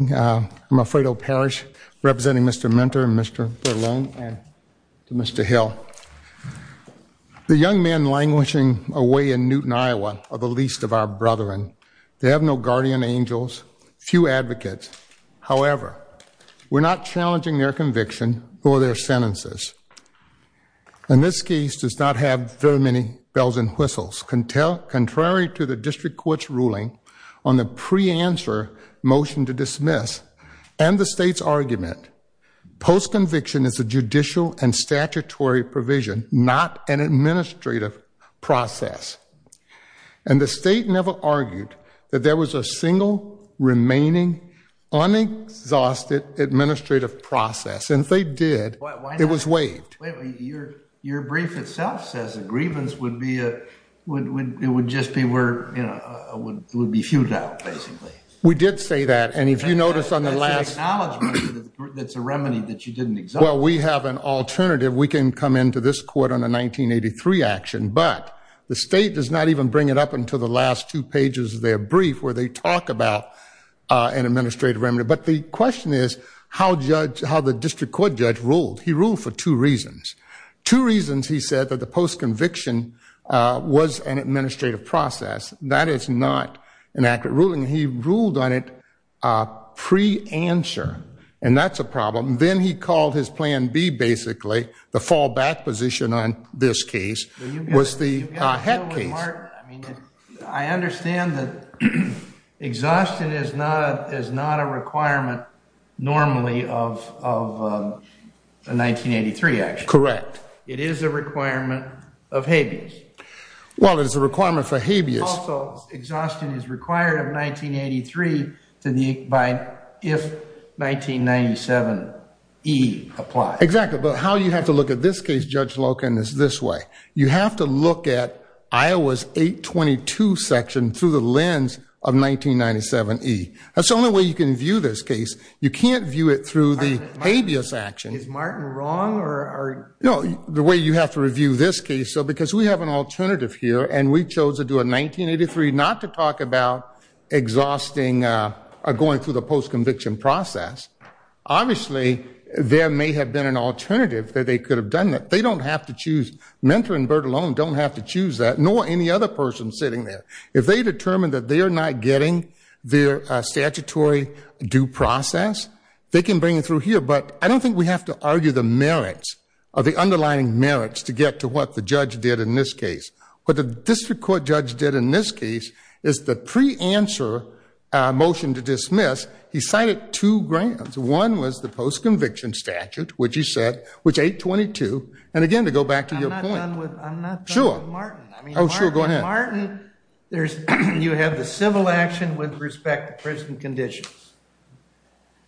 I'm Alfredo Parrish representing Mr. Minter and Mr. Berlone and Mr. Hill. The young men languishing away in Newton, Iowa are the least of our brethren. They have no guardian angels, few advocates. However, we're not challenging their conviction or their sentences. And this case does not have very many bells and whistles. Contrary to the district court's ruling on the pre-answer motion to dismiss and the state's argument, post-conviction is a judicial and statutory provision, not an administrative process. And the state never argued that there was a single, remaining, unexhausted administrative process. And if they did, it was waived. Your brief itself says a grievance would be a, would, would, it would just be where, you know, would be feuded out, basically. We did say that. And if you notice on the last that's a remedy that you didn't exhaust. Well, we have an alternative. We can come into this court on a 1983 action, but the state does not even bring it up until the last two pages of their brief where they talk about an administrative remedy. But the question is how judge, how the Two reasons he said that the post-conviction was an administrative process. That is not an accurate ruling. He ruled on it pre-answer, and that's a problem. Then he called his plan B, basically, the fallback position on this case was the head case. I understand that exhaustion is not, is not a requirement normally of, of a 1983 action. Correct. It is a requirement of habeas. Well, it is a requirement for habeas. Also, exhaustion is required of 1983 to the, by, if 1997E applies. Exactly. But how you have to look at this case, Judge Loken, is this way. You have to look at Iowa's 822 section through the lens of 1997E. That's the only way you can view this case. You can't view it through the habeas action. Is Martin wrong, or? No, the way you have to review this case, so because we have an alternative here, and we chose to do a 1983 not to talk about exhausting, going through the post-conviction process. Obviously, there may have been an alternative that they could have done that. They don't have to choose. Mentor and Byrd alone don't have to choose that, nor any other sitting there. If they determine that they are not getting their statutory due process, they can bring it through here. But I don't think we have to argue the merits, or the underlying merits, to get to what the judge did in this case. What the district court judge did in this case is the pre-answer motion to dismiss, he cited two grounds. One was the post-conviction statute, which he said, which 822, and again, to go back to your point. I'm not done with Martin. Oh, sure, go ahead. Martin, you have the civil action with respect to prison conditions,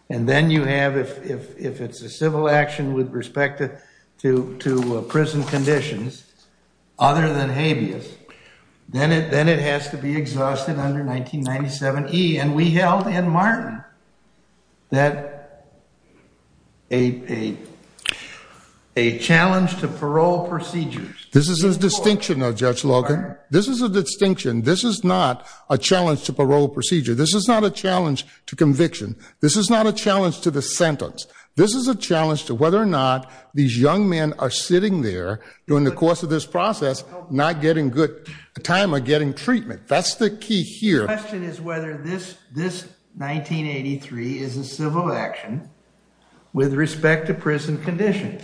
and then you have, if it's a civil action with respect to prison conditions other than habeas, then it has to be exhausted under 1997E. And we held in Martin that a challenge to parole procedures. This is a distinction though, Judge Logan. This is a distinction. This is not a challenge to parole procedure. This is not a challenge to conviction. This is not a challenge to the sentence. This is a challenge to whether or not these young men are sitting there during the course of this process not getting good time or getting treatment. That's the key here. The question is whether this 1983 is a civil action with respect to prison conditions.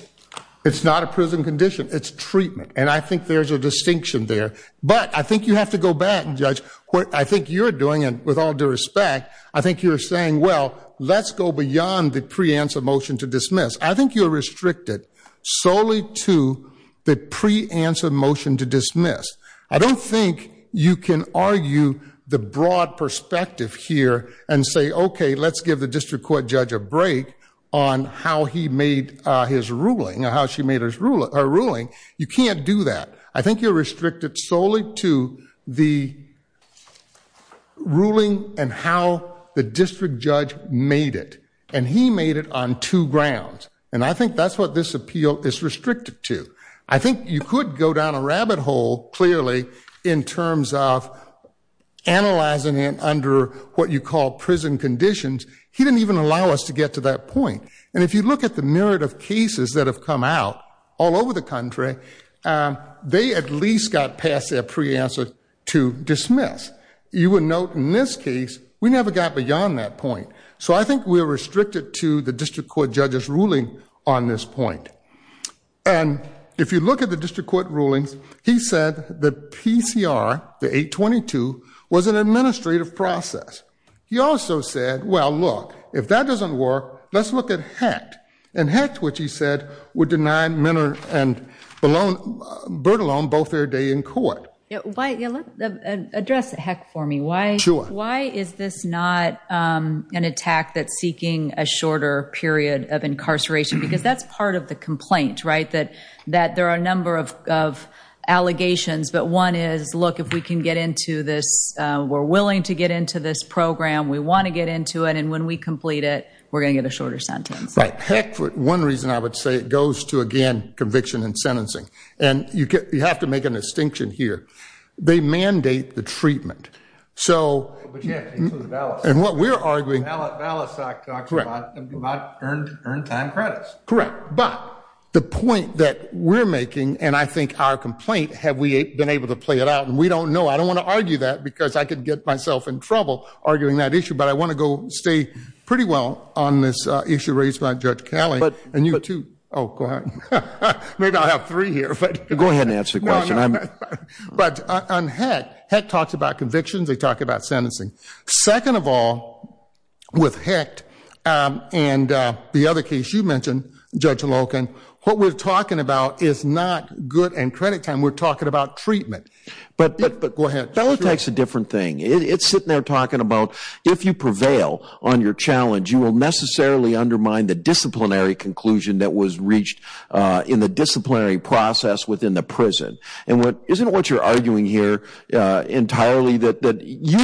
It's not a prison condition. It's treatment. And I think there's a distinction there. But I think you have to go back, Judge, what I think you're doing, and with all due respect, I think you're saying, well, let's go beyond the pre-answer motion to dismiss. I think you're restricted solely to the pre-answer motion to dismiss. I don't think you can argue the broad perspective here and say, okay, let's give the district court judge a break on how he made his ruling or how she made her ruling. You can't do that. I think you're restricted solely to the ruling and how the district judge made it. And he made it on two grounds. And I think that's what this appeal is restricted to. I think you could go down a rabbit hole, clearly, in terms of analyzing it under what you call prison conditions. He didn't even allow us to get to that point. And if you look at the myriad of cases that have come out all over the country, they at least got past their pre-answer to dismiss. You would note in this case, we never got beyond that point. So I think we're restricted to the district court judge's ruling on this point. And if you look at the district court rulings, he said the PCR, the 822, was an administrative process. He also said, well, look, if that doesn't work, let's look at HECT. And HECT, which he said, would deny Minner and Bertolone both their day in court. Address HECT for me. Why is this not an attack that's seeking a shorter period of incarceration? Because that's part of the complaint, right? That there are a number of allegations. But one is, look, if we can get into this, we're willing to get into this program, we want to get into it. And when we complete it, we're going to get a shorter sentence. Right. HECT, for one reason, I would say it goes to, again, conviction and sentencing. And you have to make a distinction here. They mandate the treatment. So, and what we're arguing, correct. But the point that we're making, and I think our complaint, have we been able to play it out? And we don't know. I don't want to argue that because I could get myself in trouble arguing that issue. But I want to go stay pretty well on this issue raised by Judge Kelly and you too. Oh, go ahead. Maybe I'll have three here. Go ahead and answer the about conviction. They talk about sentencing. Second of all, with HECT and the other case you mentioned, Judge Loken, what we're talking about is not good and credit time. We're talking about treatment. But go ahead. Bella Tech's a different thing. It's sitting there talking about, if you prevail on your challenge, you will necessarily undermine the disciplinary conclusion that was reached in the disciplinary process within the prison. And isn't what you're you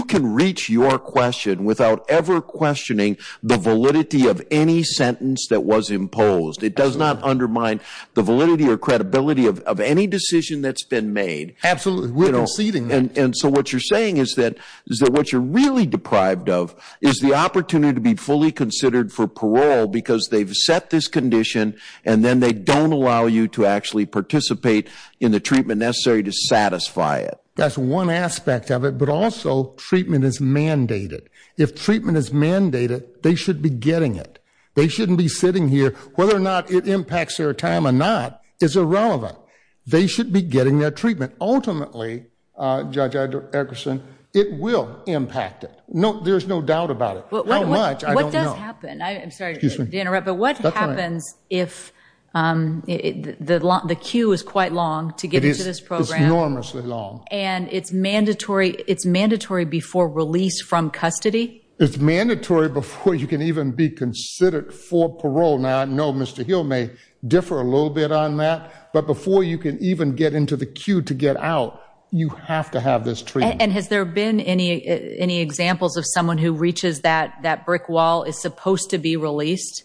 can reach your question without ever questioning the validity of any sentence that was imposed. It does not undermine the validity or credibility of any decision that's been made. Absolutely. And so what you're saying is that what you're really deprived of is the opportunity to be fully considered for parole because they've set this condition and then they don't allow you to actually participate in the treatment necessary to satisfy it. That's one aspect of it. But also treatment is mandated. If treatment is mandated, they should be getting it. They shouldn't be sitting here. Whether or not it impacts their time or not is irrelevant. They should be getting their treatment. Ultimately, Judge Eggerson, it will impact it. No, there's no doubt about it. How much, I don't know. What does happen? I'm sorry to interrupt, but what happens if the queue is quite long to get into this program? It's enormously long. And it's mandatory before release from custody? It's mandatory before you can even be considered for parole. Now, I know Mr. Hill may differ a little bit on that, but before you can even get into the queue to get out, you have to have this treatment. And has there been any examples of someone who reaches that brick wall is supposed to be released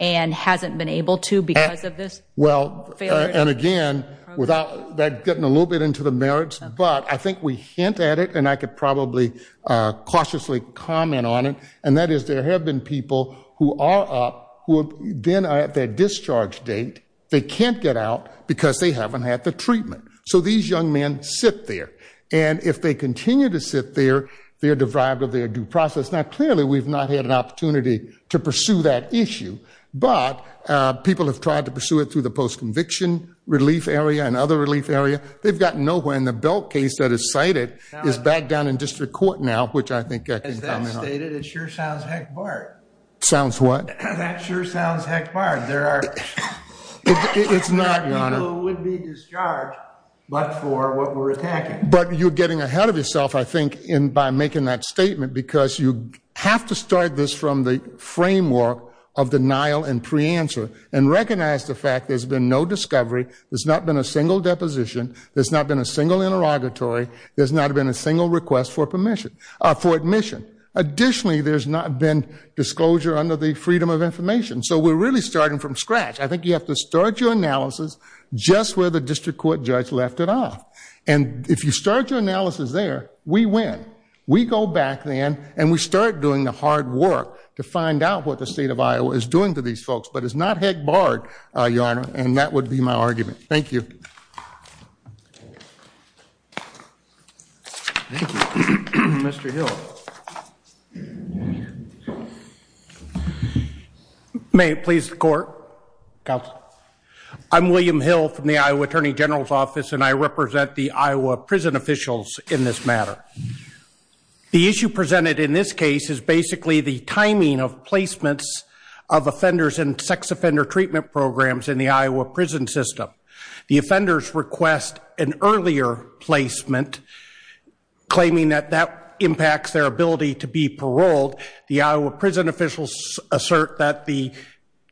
and hasn't been able to because of this? Well, and again, without getting a little bit into the merits, but I think we hint at it, and I could probably cautiously comment on it, and that is there have been people who are up, who then are at their discharge date. They can't get out because they haven't had the treatment. So these young men sit there. And if they continue to sit there, they are deprived of their due process. Now, clearly, we've not had an opportunity to pursue that issue. But people have tried to pursue it through the post-conviction relief area and other relief area. They've gotten nowhere. And the Belk case that is cited is back down in district court now, which I think I can comment on. As that's stated, it sure sounds heck barred. Sounds what? That sure sounds heck barred. There are people who would be discharged, but for what we're making that statement, because you have to start this from the framework of denial and preanswer and recognize the fact there's been no discovery. There's not been a single deposition. There's not been a single interrogatory. There's not been a single request for admission. Additionally, there's not been disclosure under the freedom of information. So we're really starting from scratch. I think you have to start your analysis just where the district court judge left it off. And if you start your analysis there, we win. We go back then, and we start doing the hard work to find out what the state of Iowa is doing to these folks. But it's not heck barred, Your Honor, and that would be my argument. Thank you. Thank you. Mr. Hill. May it please the court, counsel. I'm William Hill from the Iowa Attorney General's Office, and I represent the Iowa prison officials in this matter. The issue presented in this case is basically the timing of placements of offenders in sex offender treatment programs in the Iowa prison system. The offenders request an earlier placement, claiming that that impacts their ability to be paroled. The Iowa prison officials assert that the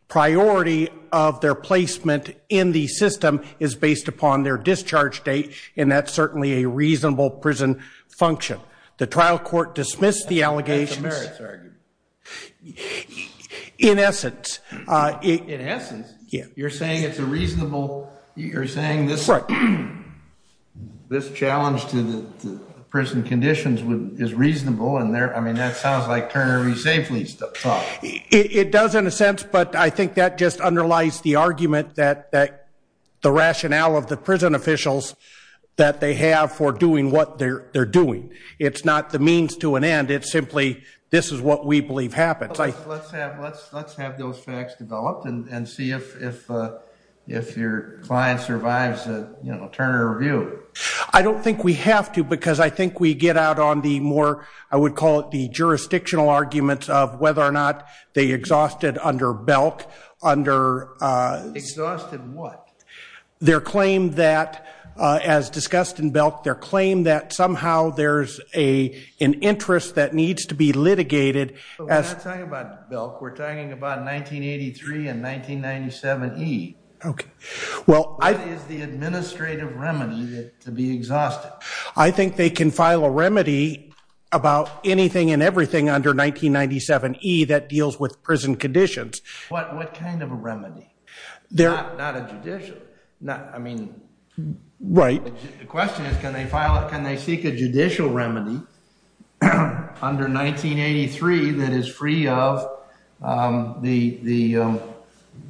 priority of their placement in the system is based upon their discharge date, and that's certainly a reasonable prison function. The trial court dismissed the allegations. That's a merits argument. In essence. In essence? Yeah. You're saying it's a reasonable, you're saying this challenge to the prison conditions is reasonable, and I mean, that sounds like Turner v. Safely thought. It does in a sense, but I think that just underlies the argument that the rationale of the prison officials that they have for doing what they're doing. It's not the means to an end, it's simply this is what we believe happens. Let's have those facts developed and see if your client survives a Turner review. I don't think we have to, because I think we get out on I would call it the jurisdictional arguments of whether or not they exhausted under Belk. Exhausted what? Their claim that, as discussed in Belk, their claim that somehow there's an interest that needs to be litigated. We're not talking about Belk, we're talking about 1983 and 1997E. Well, what is the administrative remedy to be exhausted? I think they can file a remedy about anything and everything under 1997E that deals with prison conditions. What kind of a remedy? Not a judicial. The question is, can they seek a judicial remedy under 1983 that is free of the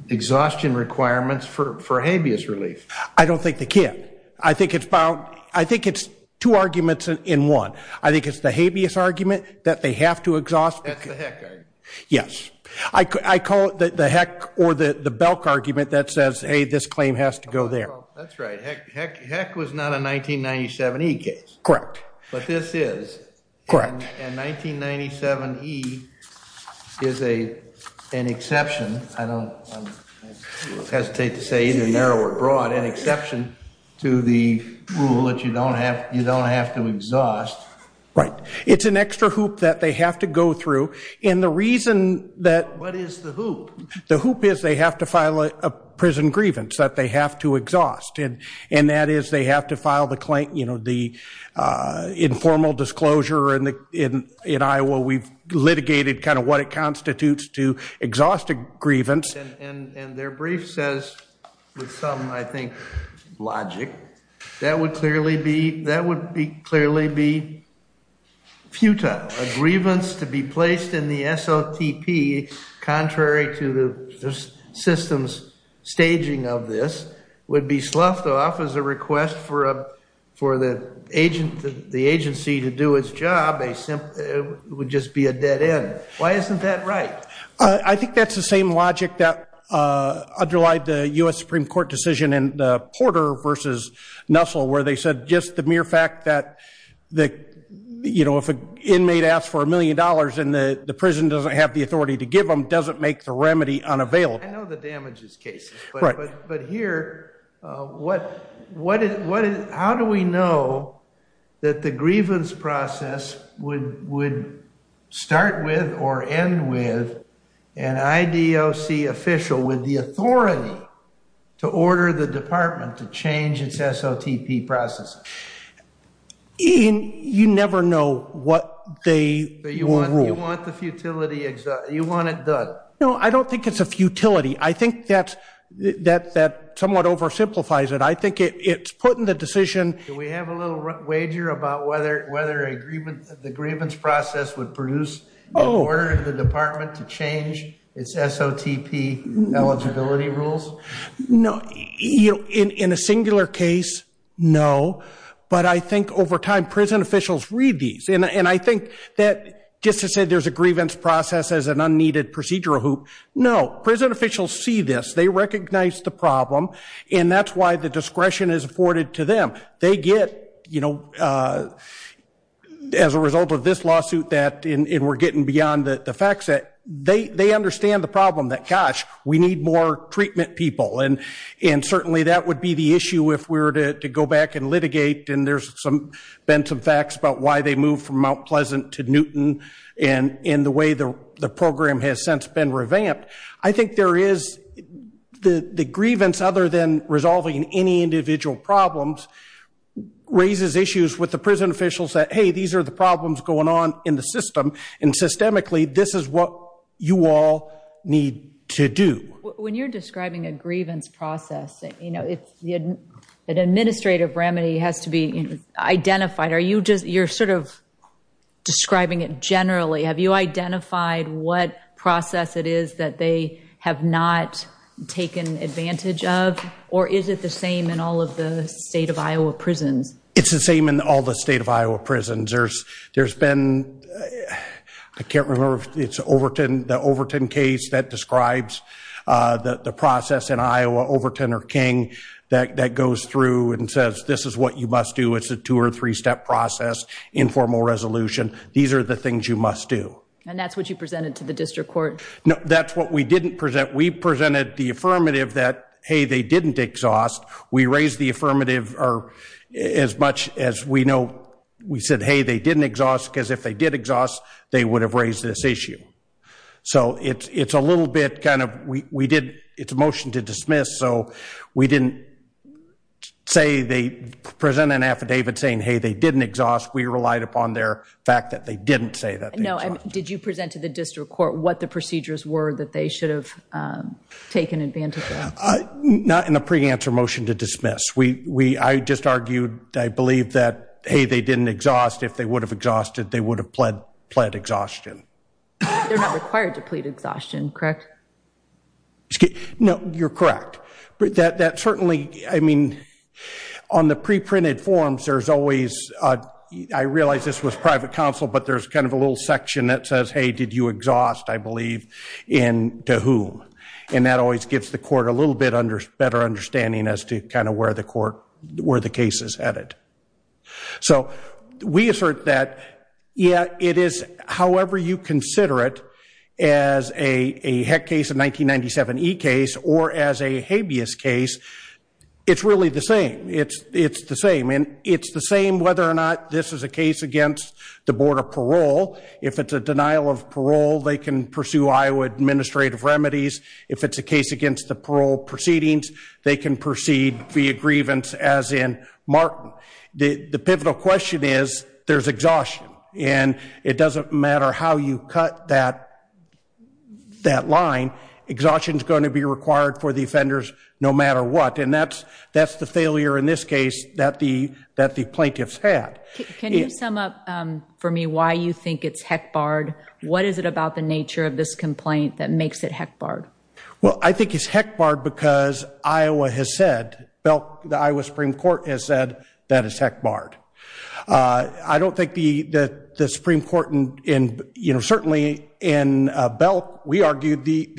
exhaustion requirements for habeas relief? I don't think they can. I think it's two arguments in one. I think it's the habeas argument that they have to exhaust. That's the Heck argument. Yes, I call it the Heck or the Belk argument that says, hey, this claim has to go there. That's right. Heck was not a 1997E case. Correct. But this is. Correct. And 1997E is an exception. I hesitate to say either narrow or broad, an exception to the rule that you don't have to exhaust. Right. It's an extra hoop that they have to go through. And the reason that. What is the hoop? The hoop is they have to file a prison grievance that they have to exhaust. And that is they have to file the claim, you know, the informal disclosure in Iowa. We've litigated kind of what it constitutes to exhaust a grievance. And their brief says, with some, I think, logic, that would clearly be, that would be clearly be futile. A grievance to be placed in the SLTP, contrary to the system's staging of this, would be sloughed off as a request for the agency to do its job. It would just be a dead end. Why isn't that right? I think that's the same logic that underlied the U.S. Supreme Court decision in Porter v. Nussel, where they said just the mere fact that, you know, if an inmate asks for a million dollars and the prison doesn't have the authority to give them, doesn't make the remedy unavailable. I know the damages case, but here, how do we know that the grievance process would start with or end with an IDOC official with the authority to order the department to change its SLTP processes? You never know what they will rule. You want the futility, you want it done. No, I don't think it's a futility. I think that somewhat oversimplifies it. I think it's putting the decision... Do we have a little wager about whether the grievance process would produce an order to the department to change its SLTP eligibility rules? No, in a singular case, no. But I think over time, prison officials read these. And I think that just to say there's a grievance process as an unneeded procedural hoop, no. Prison officials see this. They recognize the problem. And that's why the discretion is afforded to them. They get, you know, as a result of this lawsuit that... And we're getting beyond the facts that... They understand the problem that, gosh, we need more treatment people. And certainly that would be the issue if we were to go back and litigate. And there's been some facts about why they moved from Mount Pleasant to Newton and the way the program has since been revamped. I think there is... The grievance, other than resolving any individual problems, raises issues with the prison officials that, hey, these are the problems going on in the system. And systemically, this is what you all need to do. When you're describing a grievance process, you know, an administrative remedy has to be identified. Are you just... You're sort of describing it generally. Have you not taken advantage of? Or is it the same in all of the state of Iowa prisons? It's the same in all the state of Iowa prisons. There's been... I can't remember if it's Overton, the Overton case that describes the process in Iowa, Overton or King, that goes through and says, this is what you must do. It's a two or three step process, informal resolution. These are the things you must do. And that's what you presented to the district court? No, that's what we didn't present. We presented the affirmative that, hey, they didn't exhaust. We raised the affirmative or as much as we know, we said, hey, they didn't exhaust because if they did exhaust, they would have raised this issue. So it's a little bit kind of... We did... It's a motion to dismiss. So we didn't say they present an affidavit saying, hey, they didn't exhaust. We relied upon their fact that they didn't say that. Did you present to the district court what the procedures were that they should have taken advantage of? Not in a pre-answer motion to dismiss. I just argued, I believe that, hey, they didn't exhaust. If they would have exhausted, they would have pled exhaustion. They're not required to plead exhaustion, correct? No, you're correct. That certainly, I mean, on the pre-printed forms, there's always... I realized this was private counsel, but there's kind of a little section that says, hey, did you exhaust, I believe, to whom? And that always gives the court a little bit better understanding as to kind of where the court, where the case is headed. So we assert that, yeah, it is however you consider it as a HEC case, a 1997 E case, or as a habeas case, it's really the same. It's the same. And it's the same whether or not this is a case against the Board of Parole. If it's a denial of parole, they can pursue Iowa administrative remedies. If it's a case against the parole proceedings, they can proceed via grievance as in Martin. The pivotal question is, there's exhaustion. And it doesn't matter how you cut that line, exhaustion is going to be required for the offenders no matter what. And that's the failure in this case that the plaintiffs had. Can you sum up for me why you think it's HEC barred? What is it about the nature of this complaint that makes it HEC barred? Well, I think it's HEC barred because Iowa has said, the Iowa Supreme Court has said that it's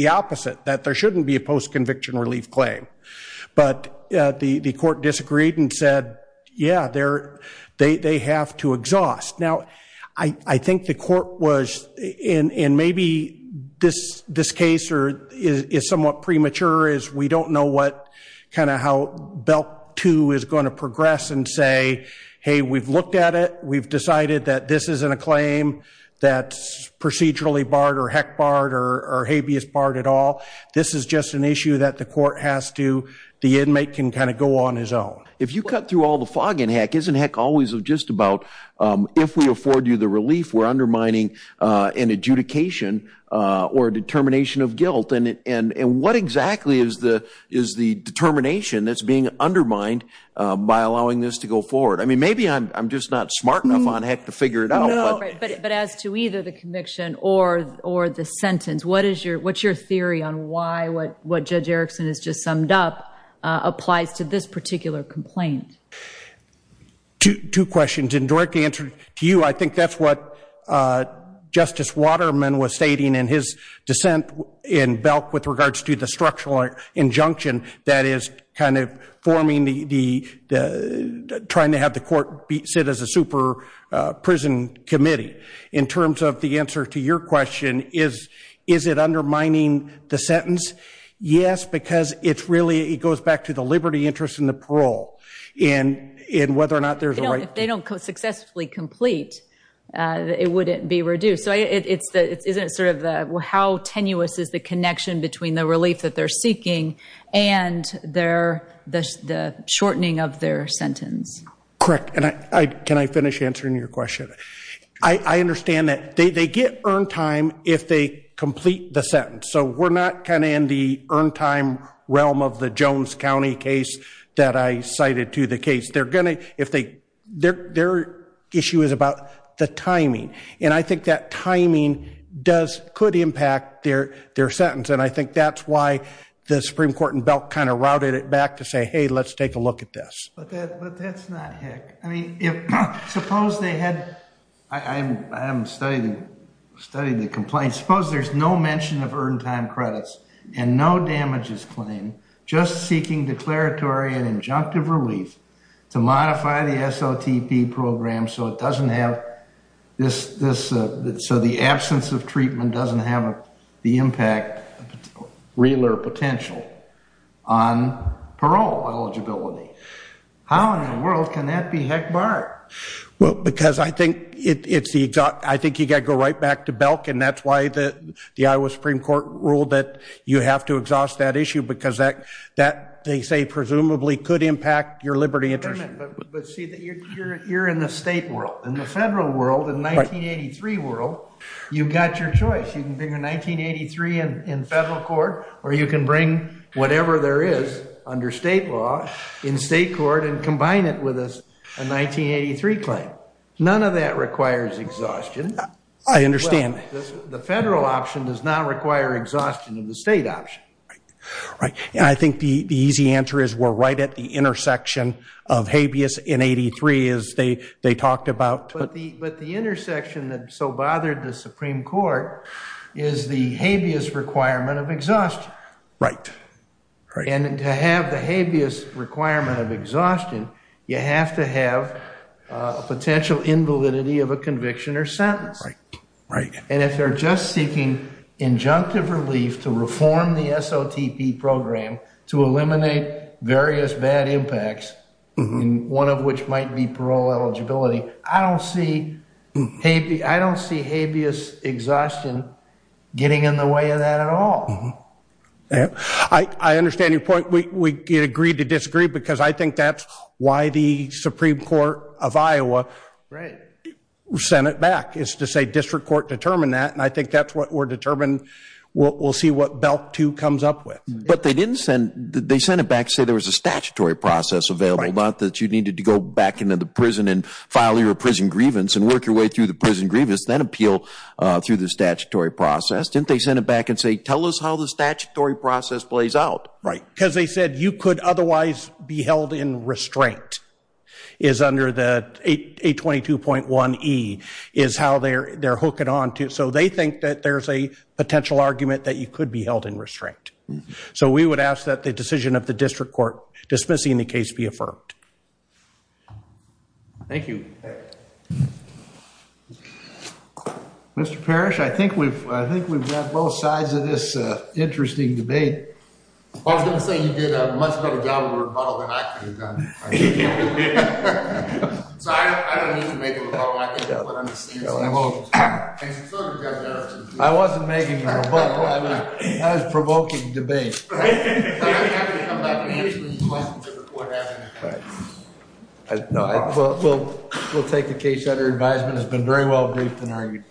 opposite, that there shouldn't be a post-conviction relief claim. But the court disagreed and said, yeah, they have to exhaust. Now, I think the court was, and maybe this case is somewhat premature, is we don't know what kind of how belt two is going to progress and say, hey, we've looked at it. We've decided that this isn't a claim that's procedurally barred or HEC barred or habeas barred at all. This is just an issue that the court has to, the inmate can kind of go on his own. If you cut through all the fog in HEC, isn't HEC always just about, if we afford you the relief, we're undermining an adjudication or a determination of guilt? And what exactly is the determination that's being undermined by allowing this to go forward? I mean, maybe I'm just not smart enough on HEC to figure it out. But as to either the conviction or the sentence, what's your theory on why what Judge Erickson has just summed up applies to this particular complaint? Two questions. In direct answer to you, I think that's what Justice Waterman was stating in his dissent in Belk with regards to the structural injunction that is kind of forming the, trying to have the court sit as a super committee in terms of the answer to your question is, is it undermining the sentence? Yes, because it's really, it goes back to the liberty interest and the parole and whether or not there's a right. If they don't successfully complete, it wouldn't be reduced. So it's the, isn't it sort of the, how tenuous is the connection between the relief that they're seeking and their, the shortening of their sentence? Correct. And I, can I finish answering your question? I understand that they, they get earned time if they complete the sentence. So we're not kind of in the earned time realm of the Jones County case that I cited to the case. They're going to, if they, their, their issue is about the timing. And I think that timing does, could impact their, their sentence. And I think that's why the Supreme Court in Belk kind of routed it back to hey, let's take a look at this. But that, but that's not Hick. I mean, if, suppose they had, I haven't studied, studied the complaint. Suppose there's no mention of earned time credits and no damages claim, just seeking declaratory and injunctive relief to modify the SOTP program. So it doesn't have this, this, so the absence of treatment doesn't have the impact, realer potential on parole eligibility. How in the world can that be Hick Bart? Well, because I think it's the exact, I think you got to go right back to Belk. And that's why the, the Iowa Supreme Court ruled that you have to exhaust that issue because that, that they say presumably could impact your liberty interest. But, but see that you're, you're in the state world. In the federal world, in the 1983 world, you've got your choice. You can bring a 1983 in federal court, or you can bring whatever there is under state law in state court and combine it with a, a 1983 claim. None of that requires exhaustion. I understand. The federal option does not require exhaustion of the state option. Right. I think the, the easy answer is we're right at the intersection of habeas in 83 as they, they talked about. But the, but the intersection that so bothered the Supreme Court is the habeas requirement of exhaustion. Right. And to have the habeas requirement of exhaustion, you have to have a potential invalidity of a conviction or sentence. Right. And if they're just seeking injunctive relief to reform the SOTP program, to eliminate various bad impacts, one of which might be parole eligibility. I don't see habeas, I don't see habeas exhaustion getting in the way of that at all. I understand your point. We agreed to disagree because I think that's why the Supreme Court of Iowa sent it back is to say district court determined that. And I think that's what we're we'll, we'll see what belt two comes up with. But they didn't send, they sent it back to say there was a statutory process available, not that you needed to go back into the prison and file your prison grievance and work your way through the prison grievance, then appeal through the statutory process. Didn't they send it back and say, tell us how the statutory process plays out. Right. Because they said you could otherwise be held in restraint is under the 822.1E is how they're, they're hooking on to. So they think that there's a potential argument that you could be held in restraint. So we would ask that the decision of the district court dismissing the case be affirmed. Thank you. Mr. Parrish, I think we've, I think we've got both sides of this interesting debate. I was going to say you did a much better job of a rebuttal than I could have done. I wasn't making a rebuttal, I was provoking debate. We'll take the case that our advisement has been very well briefed and argued.